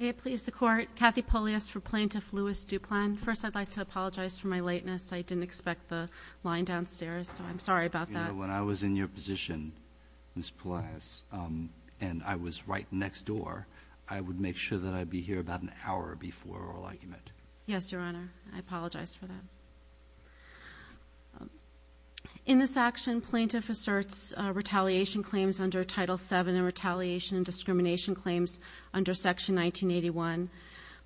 May it please the Court, Kathy Polius for Plaintiff Louis Duplan. First I'd like to apologize for my lateness. I didn't expect the line downstairs So I'm sorry about that. When I was in your position Ms. Polius, and I was right next door. I would make sure that I'd be here about an hour before oral argument Yes, your honor. I apologize for that In this action plaintiff asserts Retaliation claims under title 7 and retaliation and discrimination claims under section 1981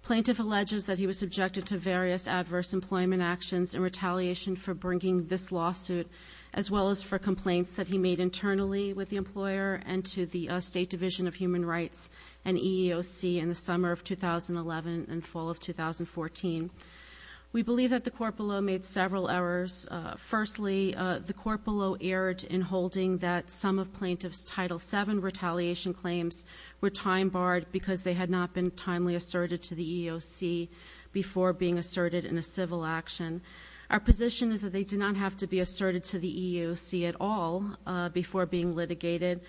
Plaintiff alleges that he was subjected to various adverse employment actions in retaliation for bringing this lawsuit as well as for complaints that he made internally with the employer and to the State Division of Human Rights and EEOC in the summer of 2011 and fall of 2014 We believe that the court below made several errors Firstly the court below erred in holding that some of plaintiff's title 7 retaliation claims Were time barred because they had not been timely asserted to the EEOC Before being asserted in a civil action. Our position is that they did not have to be asserted to the EEOC at all before being litigated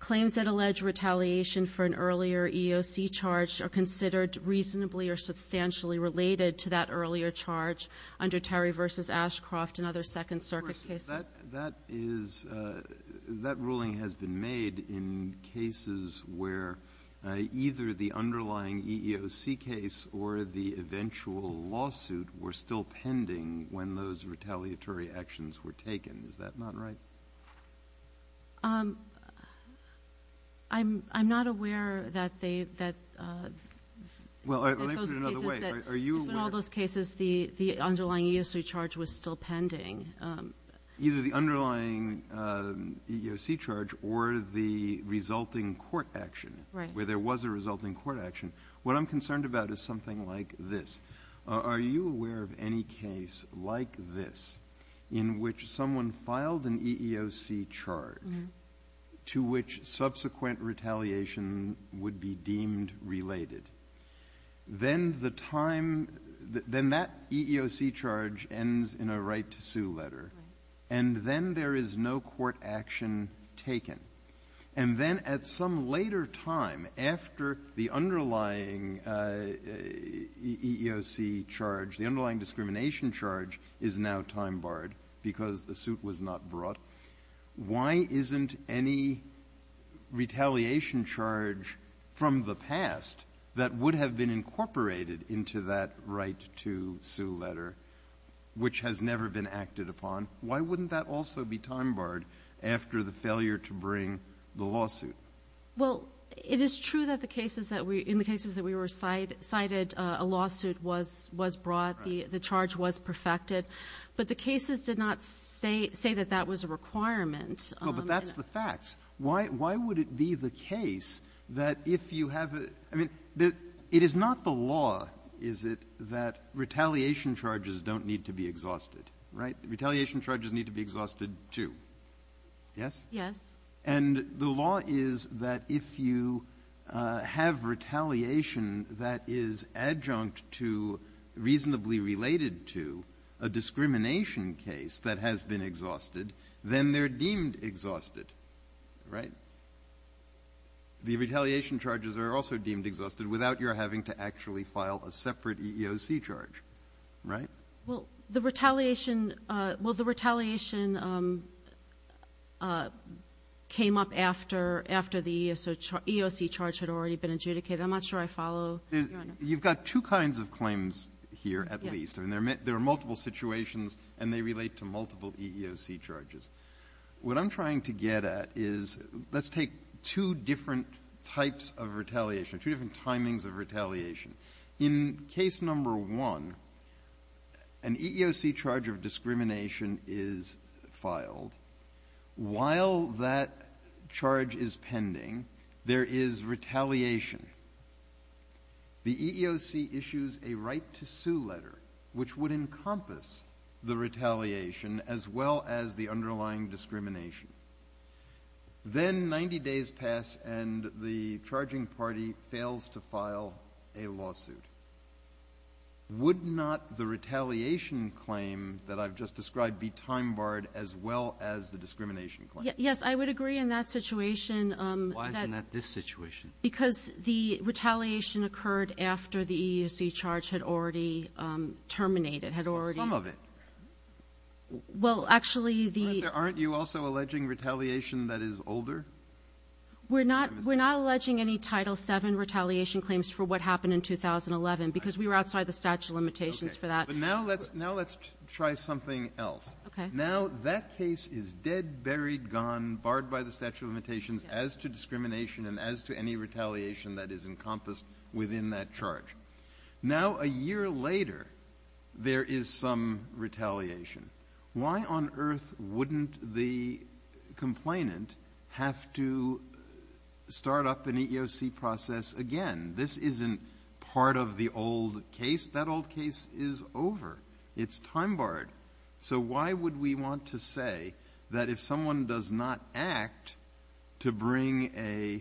Claims that allege retaliation for an earlier EEOC charge are considered reasonably or substantially Related to that earlier charge under Terry versus Ashcroft and other Second Circuit cases That ruling has been made in cases where either the underlying EEOC case or the Eventual lawsuit were still pending when those retaliatory actions were taken. Is that not right? I'm not aware that they that Well, are you in all those cases the the underlying EEOC charge was still pending either the underlying EEOC charge or the Resulting court action where there was a resulting court action. What I'm concerned about is something like this Are you aware of any case like this in which someone filed an EEOC charge? To which subsequent retaliation would be deemed related then the time then that EEOC charge ends in a right to sue letter and Then there is no court action Taken and then at some later time after the underlying EEOC charge the underlying discrimination charge is now time barred because the suit was not brought Why isn't any Retaliation charge from the past that would have been incorporated into that right to sue letter Which has never been acted upon. Why wouldn't that also be time barred after the failure to bring the lawsuit? Well, it is true that the cases that we in the cases that we were cited cited a lawsuit was was brought The the charge was perfected, but the cases did not say say that that was a requirement But that's the facts. Why why would it be the case that if you have it? I mean that it is not the law is it that retaliation charges don't need to be exhausted, right? Retaliation charges need to be exhausted, too Yes. Yes, and the law is that if you have retaliation that is adjunct to Reasonably related to a discrimination case that has been exhausted then they're deemed exhausted, right? The retaliation charges are also deemed exhausted without your having to actually file a separate EEOC charge, right? Well the retaliation Well the retaliation Came up after after the EEOC charge had already been adjudicated. I'm not sure I follow You've got two kinds of claims here at least and they're met there are multiple situations and they relate to multiple EEOC charges What I'm trying to get at is let's take two different types of retaliation two different timings of retaliation in case number one an EEOC charge of discrimination is filed While that charge is pending there is retaliation The EEOC issues a right to sue letter which would encompass the retaliation as well as the underlying discrimination Then 90 days pass and the charging party fails to file a lawsuit Would not the retaliation claim that I've just described be time-barred as well as the discrimination claim Yes, I would agree in that situation This situation because the retaliation occurred after the EEOC charge had already Terminated had already some of it Well, actually the aren't you also alleging retaliation that is older We're not we're not alleging any title 7 retaliation claims for what happened in 2011 because we were outside the statute of limitations for that But now let's now let's try something else Now that case is dead buried gone barred by the statute of limitations as to discrimination and as to any Retaliation that is encompassed within that charge now a year later There is some retaliation why on earth wouldn't the complainant have to Start up an EEOC process again. This isn't part of the old case. That old case is over It's time-barred. So why would we want to say that if someone does not act to bring a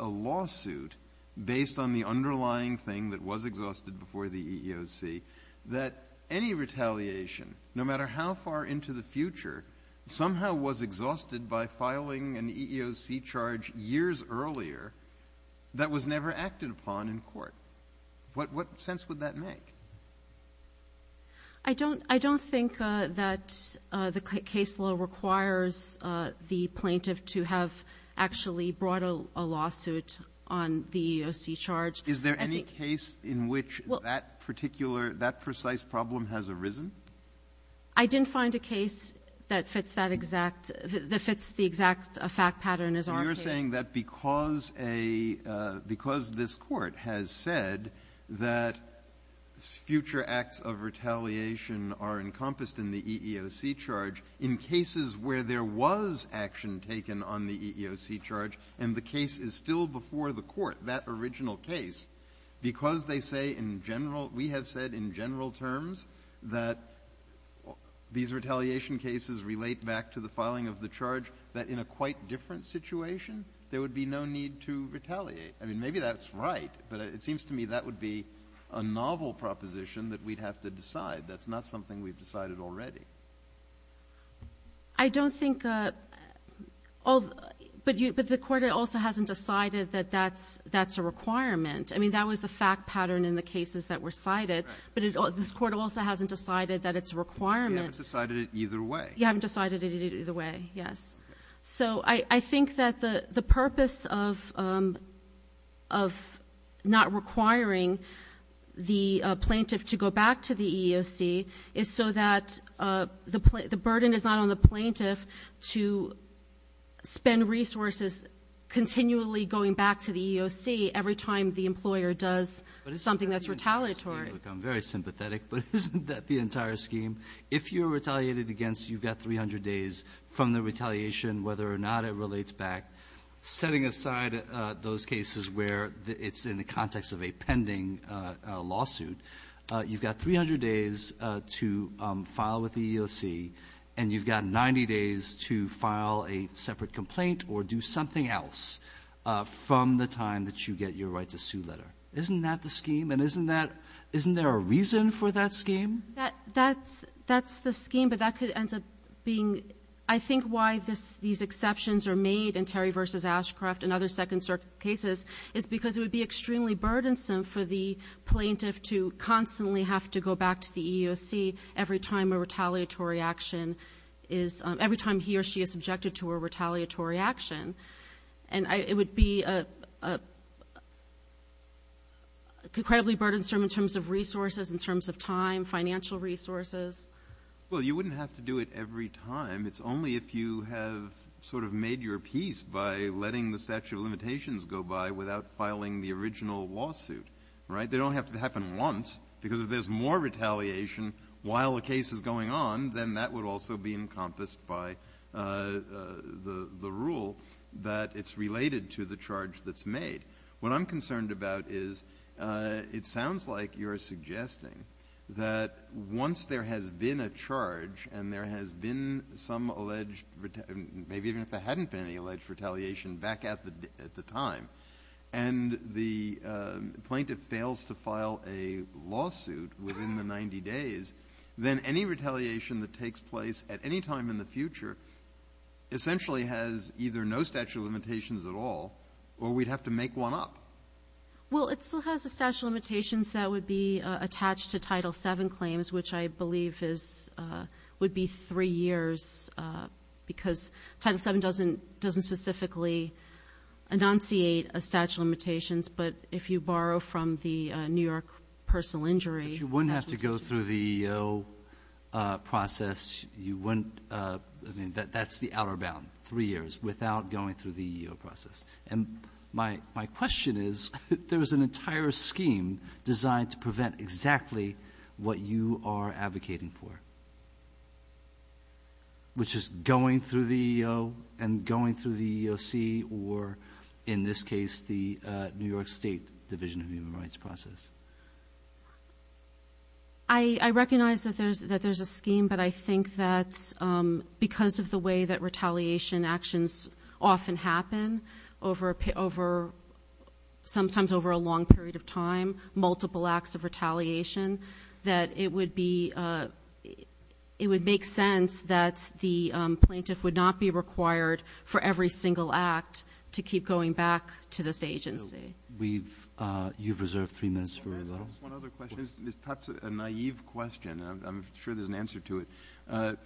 Lawsuit based on the underlying thing that was exhausted before the EEOC that any Retaliation no matter how far into the future Somehow was exhausted by filing an EEOC charge years earlier That was never acted upon in court. What what sense would that make? I Don't I don't think that the case law requires the plaintiff to have Actually brought a lawsuit on the EEOC charge Is there any case in which that particular that precise problem has arisen? I? Didn't find a case that fits that exact that fits the exact a fact pattern is are saying that because a because this court has said that Future acts of retaliation are encompassed in the EEOC charge in cases where there was Action taken on the EEOC charge and the case is still before the court that original case because they say in general we have said in general terms that These retaliation cases relate back to the filing of the charge that in a quite different situation There would be no need to retaliate. I mean, maybe that's right, but it seems to me that would be Novel proposition that we'd have to decide that's not something we've decided already. I Don't think oh But you but the court also hasn't decided that that's that's a requirement I mean that was the fact pattern in the cases that were cited But it all this court also hasn't decided that it's a requirement decided it either way. You haven't decided it either way. Yes so I I think that the the purpose of of Not requiring the plaintiff to go back to the EEOC is so that the burden is not on the plaintiff to spend resources Continually going back to the EEOC every time the employer does something that's retaliatory. I'm very sympathetic But isn't that the entire scheme if you're retaliated against you've got 300 days from the retaliation whether or not it relates back Setting aside those cases where it's in the context of a pending lawsuit you've got 300 days to File with the EEOC and you've got 90 days to file a separate complaint or do something else From the time that you get your right to sue letter Isn't that the scheme and isn't that isn't there a reason for that scheme that that's that's the scheme Being I think why this these exceptions are made in Terry versus Ashcroft and other second-circuit cases is because it would be extremely burdensome for the plaintiff to constantly have to go back to the EEOC every time a retaliatory action is every time he or she is subjected to a retaliatory action, and I it would be a Incredibly burdensome in terms of resources in terms of time financial resources Well, you wouldn't have to do it every time It's only if you have sort of made your peace by letting the statute of limitations go by without filing the original lawsuit Right, they don't have to happen once because if there's more retaliation while the case is going on Then that would also be encompassed by The the rule that it's related to the charge that's made what I'm concerned about is It sounds like you're suggesting That once there has been a charge and there has been some alleged maybe even if there hadn't been any alleged retaliation back at the at the time and the plaintiff fails to file a Lawsuit within the 90 days then any retaliation that takes place at any time in the future Essentially has either no statute of limitations at all or we'd have to make one up Well, it still has a statute of limitations that would be attached to title 7 claims, which I believe is would be three years because title 7 doesn't doesn't specifically Annunciate a statute of limitations, but if you borrow from the New York personal injury, you wouldn't have to go through the Process you wouldn't I mean that that's the outer bound three years without going through the process and My my question is there's an entire scheme designed to prevent exactly what you are advocating for Which is going through the and going through the EEOC or in this case the New York State Division of Human Rights process. I Recognize that there's that there's a scheme, but I think that's The way that retaliation actions often happen over a pit over sometimes over a long period of time multiple acts of retaliation that it would be It would make sense that the plaintiff would not be required for every single act to keep going back to this agency We've you've reserved three minutes Naive question, I'm sure there's an answer to it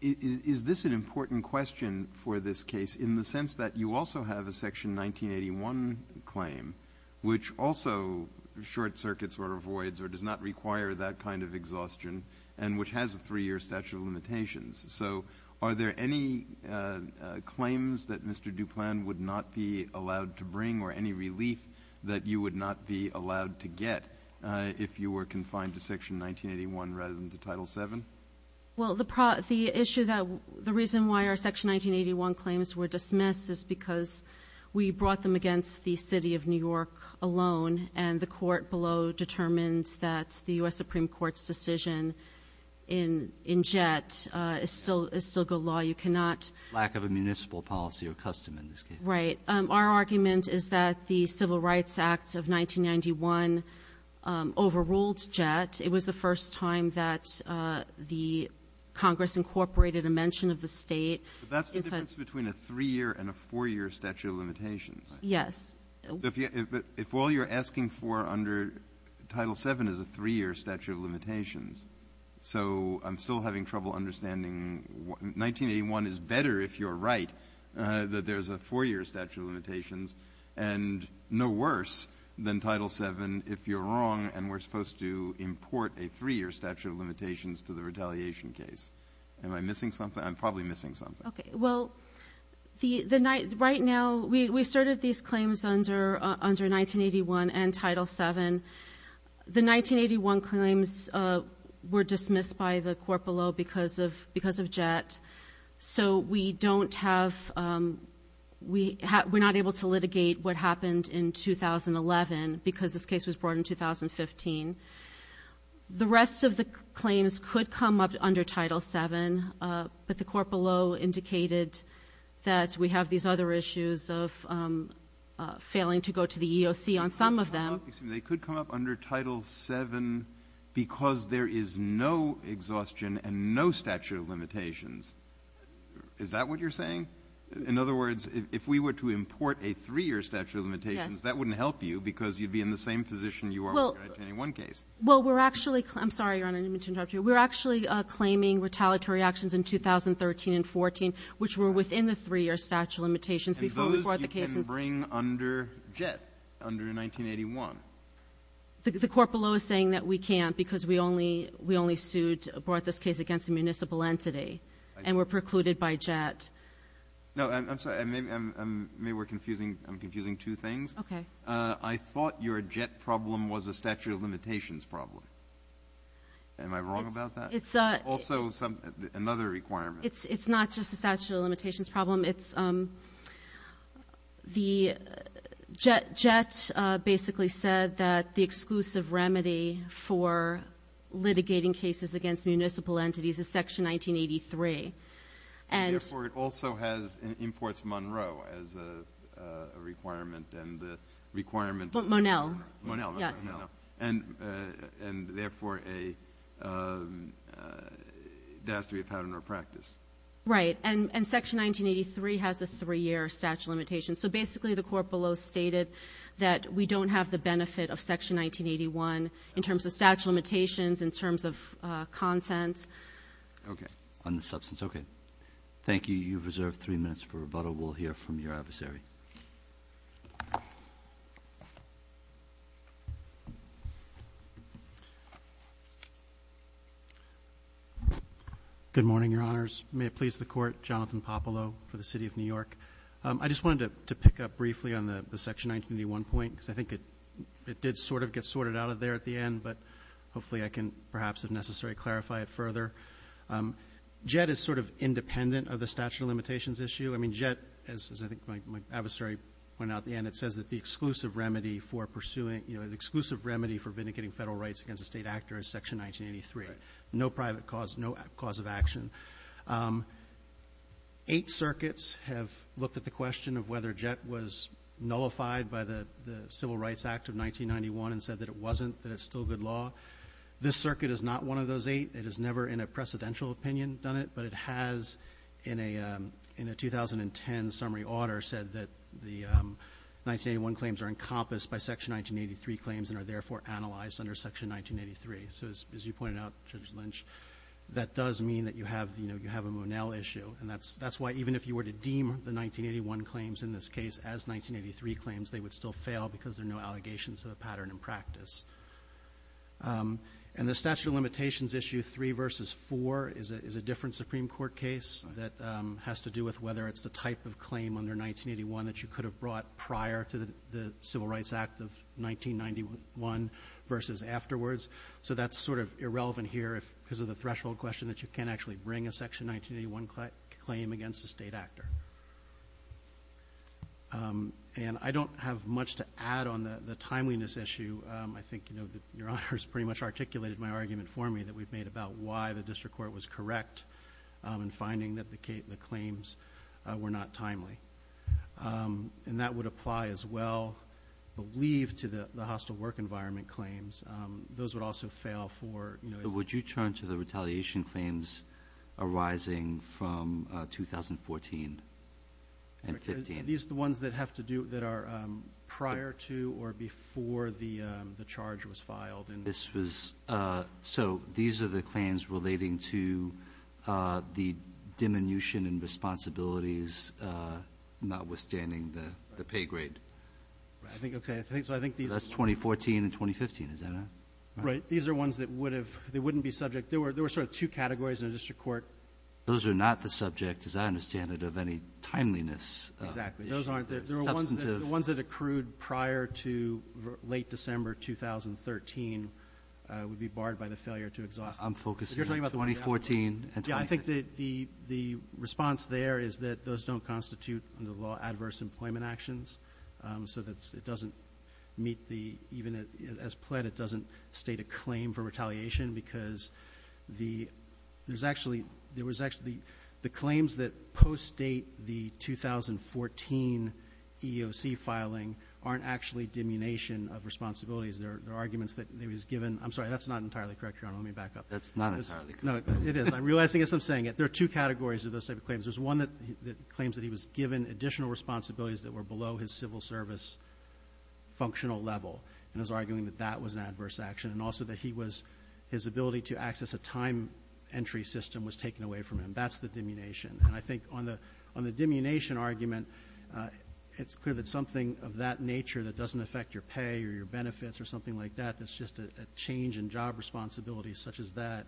Is this an important question for this case in the sense that you also have a section 1981 claim which also Short circuits or avoids or does not require that kind of exhaustion and which has a three-year statute of limitations. So are there any Claims that mr Duplan would not be allowed to bring or any relief that you would not be allowed to get If you were confined to section 1981 rather than to title 7 well the part of the issue that the reason why our section 1981 claims were dismissed is because We brought them against the city of New York alone and the court below Determines that the US Supreme Court's decision in In jet is still is still good law You cannot lack of a municipal policy or custom in this case, right? Our argument is that the Civil Rights Act of 1991? overruled jet it was the first time that The Congress incorporated a mention of the state that's between a three-year and a four-year statute of limitations Yes, if all you're asking for under title 7 is a three-year statute of limitations So I'm still having trouble understanding 1981 is better if you're right that there's a four-year statute of limitations and No worse than title 7 if you're wrong and we're supposed to import a three-year statute of limitations to the retaliation case Am I missing something? I'm probably missing something. Okay. Well The the night right now we started these claims under under 1981 and title 7 the 1981 claims Were dismissed by the court below because of because of jet so we don't have We we're not able to litigate what happened in 2011 because this case was brought in 2015 the rest of the claims could come up under title 7 but the court below indicated that we have these other issues of Failing to go to the EEOC on some of them. They could come up under title 7 Because there is no exhaustion and no statute of limitations Is that what you're saying in other words if we were to import a three-year statute of limitations That wouldn't help you because you'd be in the same position. You are one case. Well, we're actually I'm sorry You're on an image interrupt you we're actually claiming retaliatory actions in 2013 and 14 which were within the three-year statute limitations before the case and bring under jet under in 1981 The court below is saying that we can't because we only we only sued brought this case against a municipal entity And we're precluded by jet No, I'm sorry. I mean, I'm maybe we're confusing. I'm confusing two things. Okay. I thought your jet problem was a statute of limitations problem Am I wrong about that? It's a also some another requirement. It's it's not just a statute of limitations problem. It's The jet jet basically said that the exclusive remedy for Mitigating cases against municipal entities is section 1983 and therefore it also has an imports Monroe as a requirement and the requirement but Monel Monel and and therefore a That's to be a pattern or practice right and and section 1983 has a three-year statute limitation so basically the court below stated that we don't have the benefit of section 1981 in terms of statute limitations in terms of content Okay on the substance. Okay. Thank you. You've reserved three minutes for rebuttal. We'll hear from your adversary Good morning, your honors may it please the court Jonathan Popolo for the city of New York I just wanted to pick up briefly on the section 1981 point because I think it Did sort of get sorted out of there at the end, but hopefully I can perhaps if necessary clarify it further Jet is sort of independent of the statute of limitations issue I mean jet as I think my adversary went out the end It says that the exclusive remedy for pursuing, you know The exclusive remedy for vindicating federal rights against a state actor is section 1983 no private cause no cause of action Eight circuits have looked at the question of whether jet was Nullified by the the Civil Rights Act of 1991 and said that it wasn't that it's still good law This circuit is not one of those eight. It is never in a precedential opinion done it but it has in a 2010 summary order said that the 1981 claims are encompassed by section 1983 claims and are therefore analyzed under section 1983 So as you pointed out judge Lynch that does mean that you have you know And that's that's why even if you were to deem the 1981 claims in this case as 1983 claims They would still fail because there are no allegations of a pattern in practice and the statute of limitations issue 3 versus 4 is a different Supreme Court case that has to do with whether it's the type of claim under 1981 that you could have brought prior to the Civil Rights Act of 1991 versus afterwards So that's sort of irrelevant here if because of the threshold question that you can't actually bring a section 1981 claim against a state actor And I don't have much to add on the timeliness issue I think you know that your honors pretty much articulated my argument for me that we've made about why the district court was correct And finding that the Kate the claims were not timely And that would apply as well Believe to the the hostile work environment claims those would also fail for you know, would you turn to the retaliation claims? arising from 2014 and these the ones that have to do that are prior to or before the the charge was filed and this was so these are the claims relating to the diminution and responsibilities Not withstanding the the pay grade I think okay. I think so. I think that's 2014 and 2015. Is that right? These are ones that would have they wouldn't be subject there were there were sort of two categories in a district court Those are not the subject as I understand it of any timeliness Ones that accrued prior to late December 2013 Would be barred by the failure to exhaust. I'm focusing about 2014 Yeah, I think that the the response there is that those don't constitute under the law adverse employment actions so that's it doesn't meet the even as pled it doesn't state a claim for retaliation because the there's actually there was actually the claims that post date the 2014 EEOC filing aren't actually diminution of responsibilities. There are arguments that he was given. I'm sorry. That's not entirely correct You don't let me back up. That's not it is I'm realizing it's I'm saying it There are two categories of those type of claims There's one that claims that he was given additional responsibilities that were below his civil service Functional level and is arguing that that was an adverse action and also that he was his ability to access a time Entry system was taken away from him. That's the diminution and I think on the on the diminution argument It's clear that something of that nature that doesn't affect your pay or your benefits or something like that That's just a change in job responsibilities such as that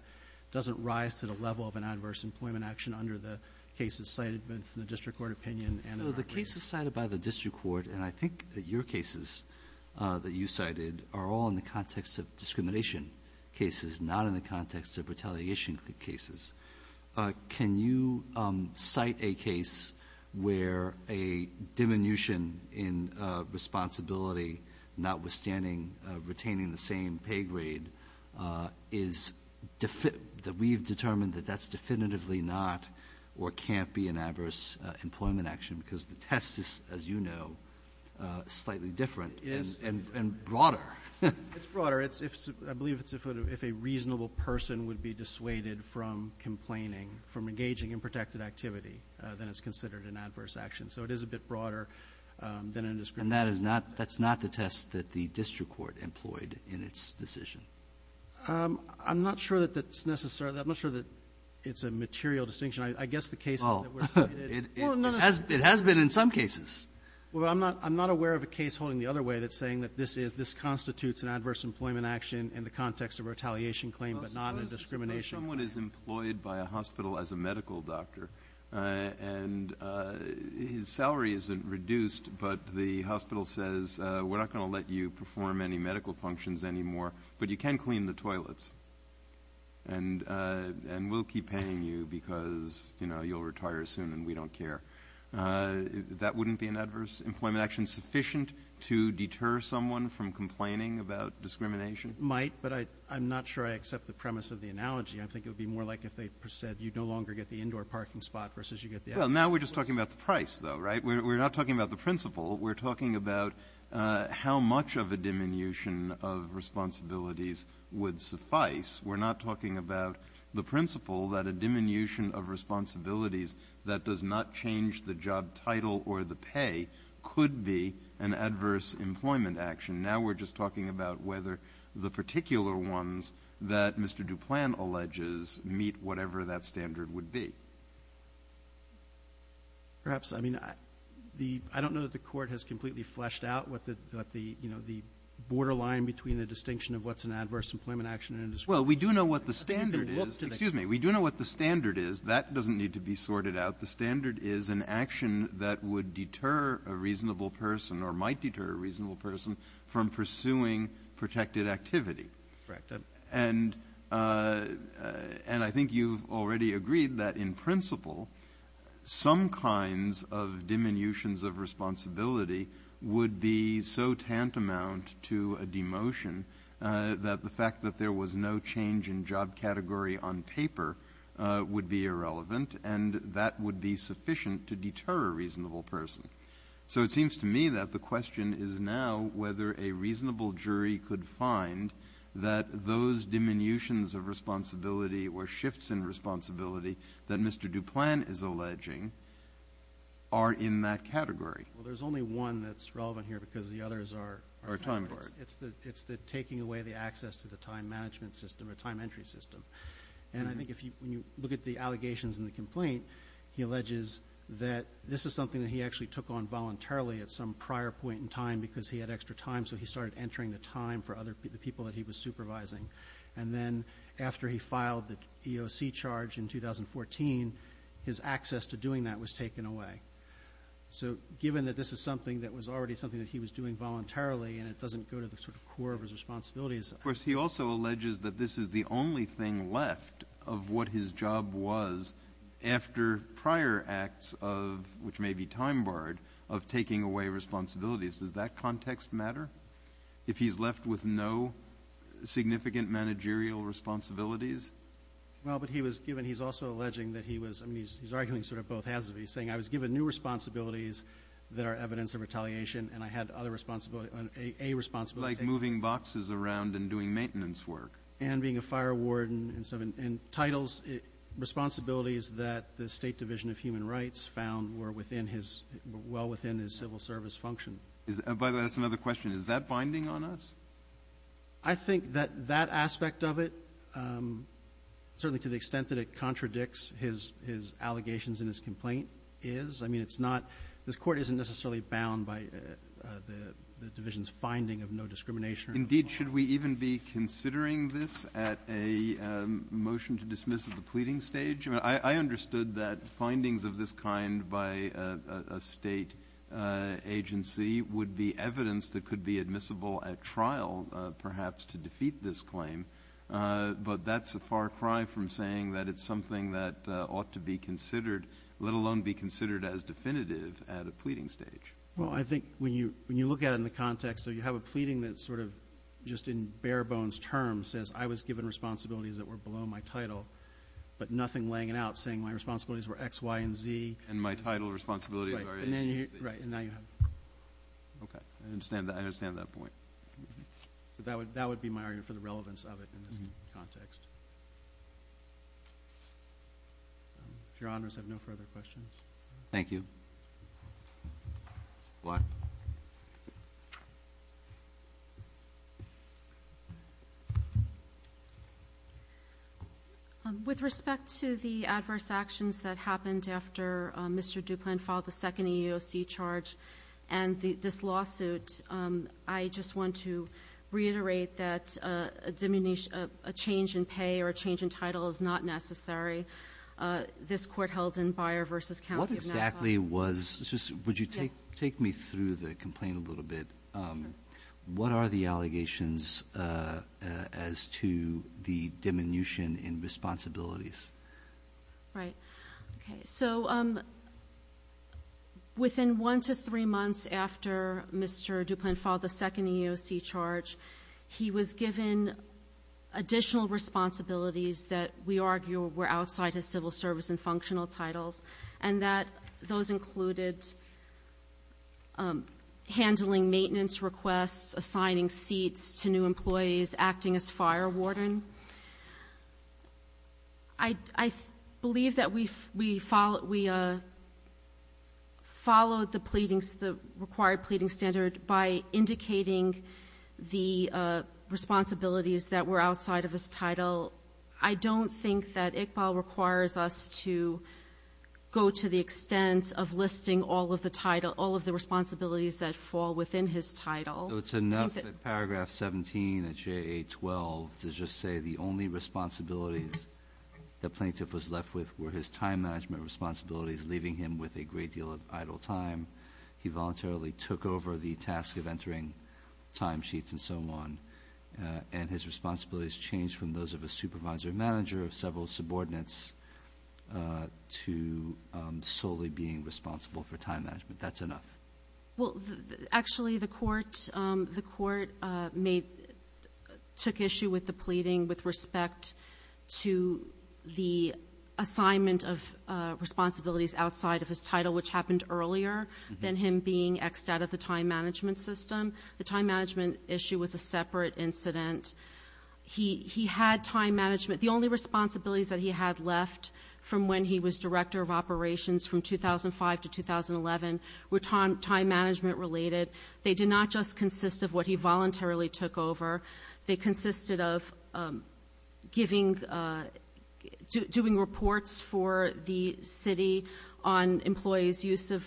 Doesn't rise to the level of an adverse employment action under the cases cited But the district court opinion and the cases cited by the district court, and I think that your cases That you cited are all in the context of discrimination cases not in the context of retaliation cases can you cite a case where a diminution in Responsibility notwithstanding retaining the same pay grade is Defeat that we've determined that that's definitively not or can't be an adverse employment action because the test is as you know Slightly different is and and broader It's broader It's if I believe it's a photo if a reasonable person would be dissuaded from Complaining from engaging in protected activity then it's considered an adverse action. So it is a bit broader Than in this and that is not that's not the test that the district court employed in its decision I'm not sure that that's necessary. I'm not sure that it's a material distinction. I guess the case Has it has been in some cases? Well, I'm not I'm not aware of a case holding the other way that's saying that this is this constitutes an adverse employment action in the context of retaliation claim, but not a discrimination what is employed by a hospital as a medical doctor and His salary isn't reduced, but the hospital says we're not going to let you perform any medical functions anymore but you can clean the toilets and And we'll keep paying you because you know, you'll retire soon and we don't care That wouldn't be an adverse employment action sufficient to deter someone from complaining about discrimination might but I I'm not sure I accept the premise of the analogy I think it would be more like if they said you no longer get the indoor parking spot versus you get there Well now we're just talking about the price though, right? We're not talking about the principal. We're talking about How much of a diminution of Responsibilities would suffice we're not talking about the principle that a diminution of responsibilities That does not change the job title or the pay could be an adverse employment action Now we're just talking about whether the particular ones that mr. Duplan alleges meet whatever that standard would be Perhaps I mean I the I don't know that the court has completely fleshed out what the the you know The borderline between the distinction of what's an adverse employment action and as well We do know what the standard is. Excuse me We do know what the standard is that doesn't need to be sorted out The standard is an action that would deter a reasonable person or might deter a reasonable person from pursuing protected activity correct and And I think you've already agreed that in principle some kinds of diminutions of Responsibility would be so tantamount to a demotion That the fact that there was no change in job category on paper Would be irrelevant and that would be sufficient to deter a reasonable person So it seems to me that the question is now whether a reasonable jury could find that those Diminutions of responsibility or shifts in responsibility that mr. Duplan is alleging are In that category. Well, there's only one that's relevant here because the others are our time It's the it's the taking away the access to the time management system a time entry system And I think if you look at the allegations in the complaint He alleges that this is something that he actually took on voluntarily at some prior point in time because he had extra time So he started entering the time for other people that he was supervising and then after he filed the EOC charge in 2014 his access to doing that was taken away So given that this is something that was already something that he was doing Voluntarily and it doesn't go to the sort of core of his responsibilities Of course, he also alleges that this is the only thing left of what his job was After prior acts of which may be time-barred of taking away responsibilities. Does that context matter? if he's left with no significant managerial Responsibilities. Well, but he was given he's also alleging that he was I mean, he's arguing sort of both halves of he's saying I was given new responsibilities that are evidence of retaliation and I had other responsibility a Responsibility like moving boxes around and doing maintenance work and being a fire warden and seven and titles Responsibilities that the State Division of Human Rights found were within his well within his civil service function By the way, that's another question. Is that binding on us? I Think that that aspect of it Certainly to the extent that it contradicts his his allegations in his complaint is I mean It's not this court isn't necessarily bound by the division's finding of no discrimination indeed should we even be considering this at a Motion to dismiss at the pleading stage. I understood that findings of this kind by a state Agency would be evidence that could be admissible at trial perhaps to defeat this claim But that's a far cry from saying that it's something that ought to be considered Let alone be considered as definitive at a pleading stage well I think when you when you look at it in the context So you have a pleading that sort of just in bare-bones terms says I was given responsibilities that were below my title But nothing laying it out saying my responsibilities were X Y & Z and my title responsibilities Right Okay, I understand that I understand that point so that would that would be my area for the relevance of it in this context If your honors have no further questions, thank you What With respect to the adverse actions that happened after Mr. Duplan filed the second EEOC charge and the this lawsuit I just want to reiterate that a diminished a change in pay or a change in title is not necessary This court held in buyer versus County exactly was just would you take take me through the complaint a little bit? What are the allegations? as to the diminution in responsibilities right, okay, so Within one to three months after mr. Duplan filed the second EEOC charge. He was given Additional responsibilities that we argue were outside his civil service and functional titles and that those included Handling maintenance requests assigning seats to new employees acting as fire warden. I Believe that we've we followed we Followed the pleadings the required pleading standard by indicating the Responsibilities that were outside of his title. I don't think that Iqbal requires us to Go to the extent of listing all of the title all of the responsibilities that fall within his title It's enough at paragraph 17 at j8 12 to just say the only responsibilities The plaintiff was left with were his time management responsibilities leaving him with a great deal of idle time He voluntarily took over the task of entering Time sheets and so on and his responsibilities changed from those of a supervisor manager of several subordinates to Solely being responsible for time management. That's enough. Well, actually the court the court made took issue with the pleading with respect to the assignment of Responsibilities outside of his title which happened earlier than him being X out of the time management system The time management issue was a separate incident He he had time management The only responsibilities that he had left from when he was director of operations from 2005 to 2011 were time time management Related they did not just consist of what he voluntarily took over. They consisted of giving Doing reports for the city on employees use of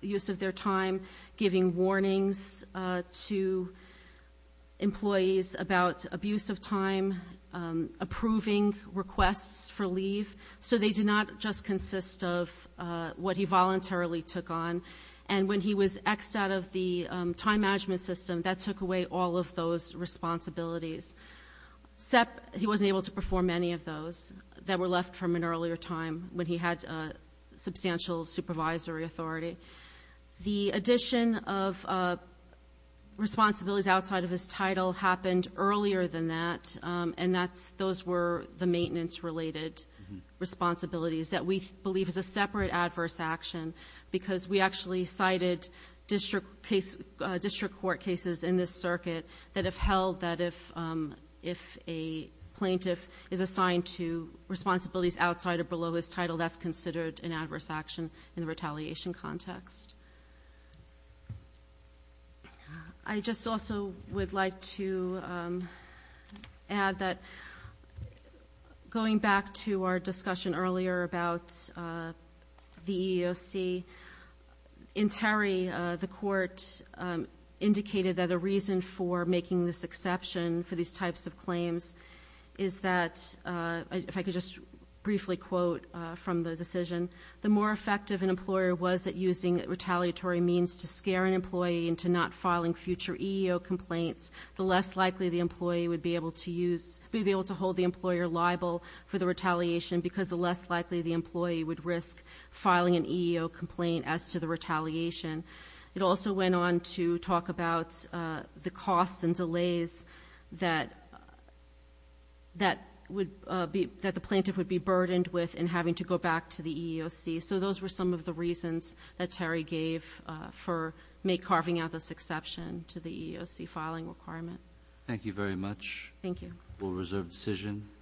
use of their time giving warnings to Employees about abuse of time Approving requests for leave so they did not just consist of What he voluntarily took on and when he was X out of the time management system that took away all of those responsibilities SEP he wasn't able to perform any of those that were left from an earlier time when he had substantial supervisory authority the addition of Responsibilities outside of his title happened earlier than that and that's those were the maintenance related Responsibilities that we believe is a separate adverse action because we actually cited district case district court cases in this circuit that have held that if if a Plaintiff is assigned to Responsibilities outside or below his title that's considered an adverse action in the retaliation context. I Just also would like to Add that Going back to our discussion earlier about the EEOC in Terry the court Indicated that a reason for making this exception for these types of claims is that If I could just briefly quote from the decision the more effective an employer was at using retaliatory means to scare an employee into not filing future EEO complaints the less likely the employee would be able to use be able to Hold the employer liable for the retaliation because the less likely the employee would risk filing an EEO complaint as to the retaliation It also went on to talk about the costs and delays that That would be that the plaintiff would be burdened with in having to go back to the EEOC So those were some of the reasons that Terry gave for make carving out this exception to the EEOC filing requirement Thank you very much. Thank you will reserve decision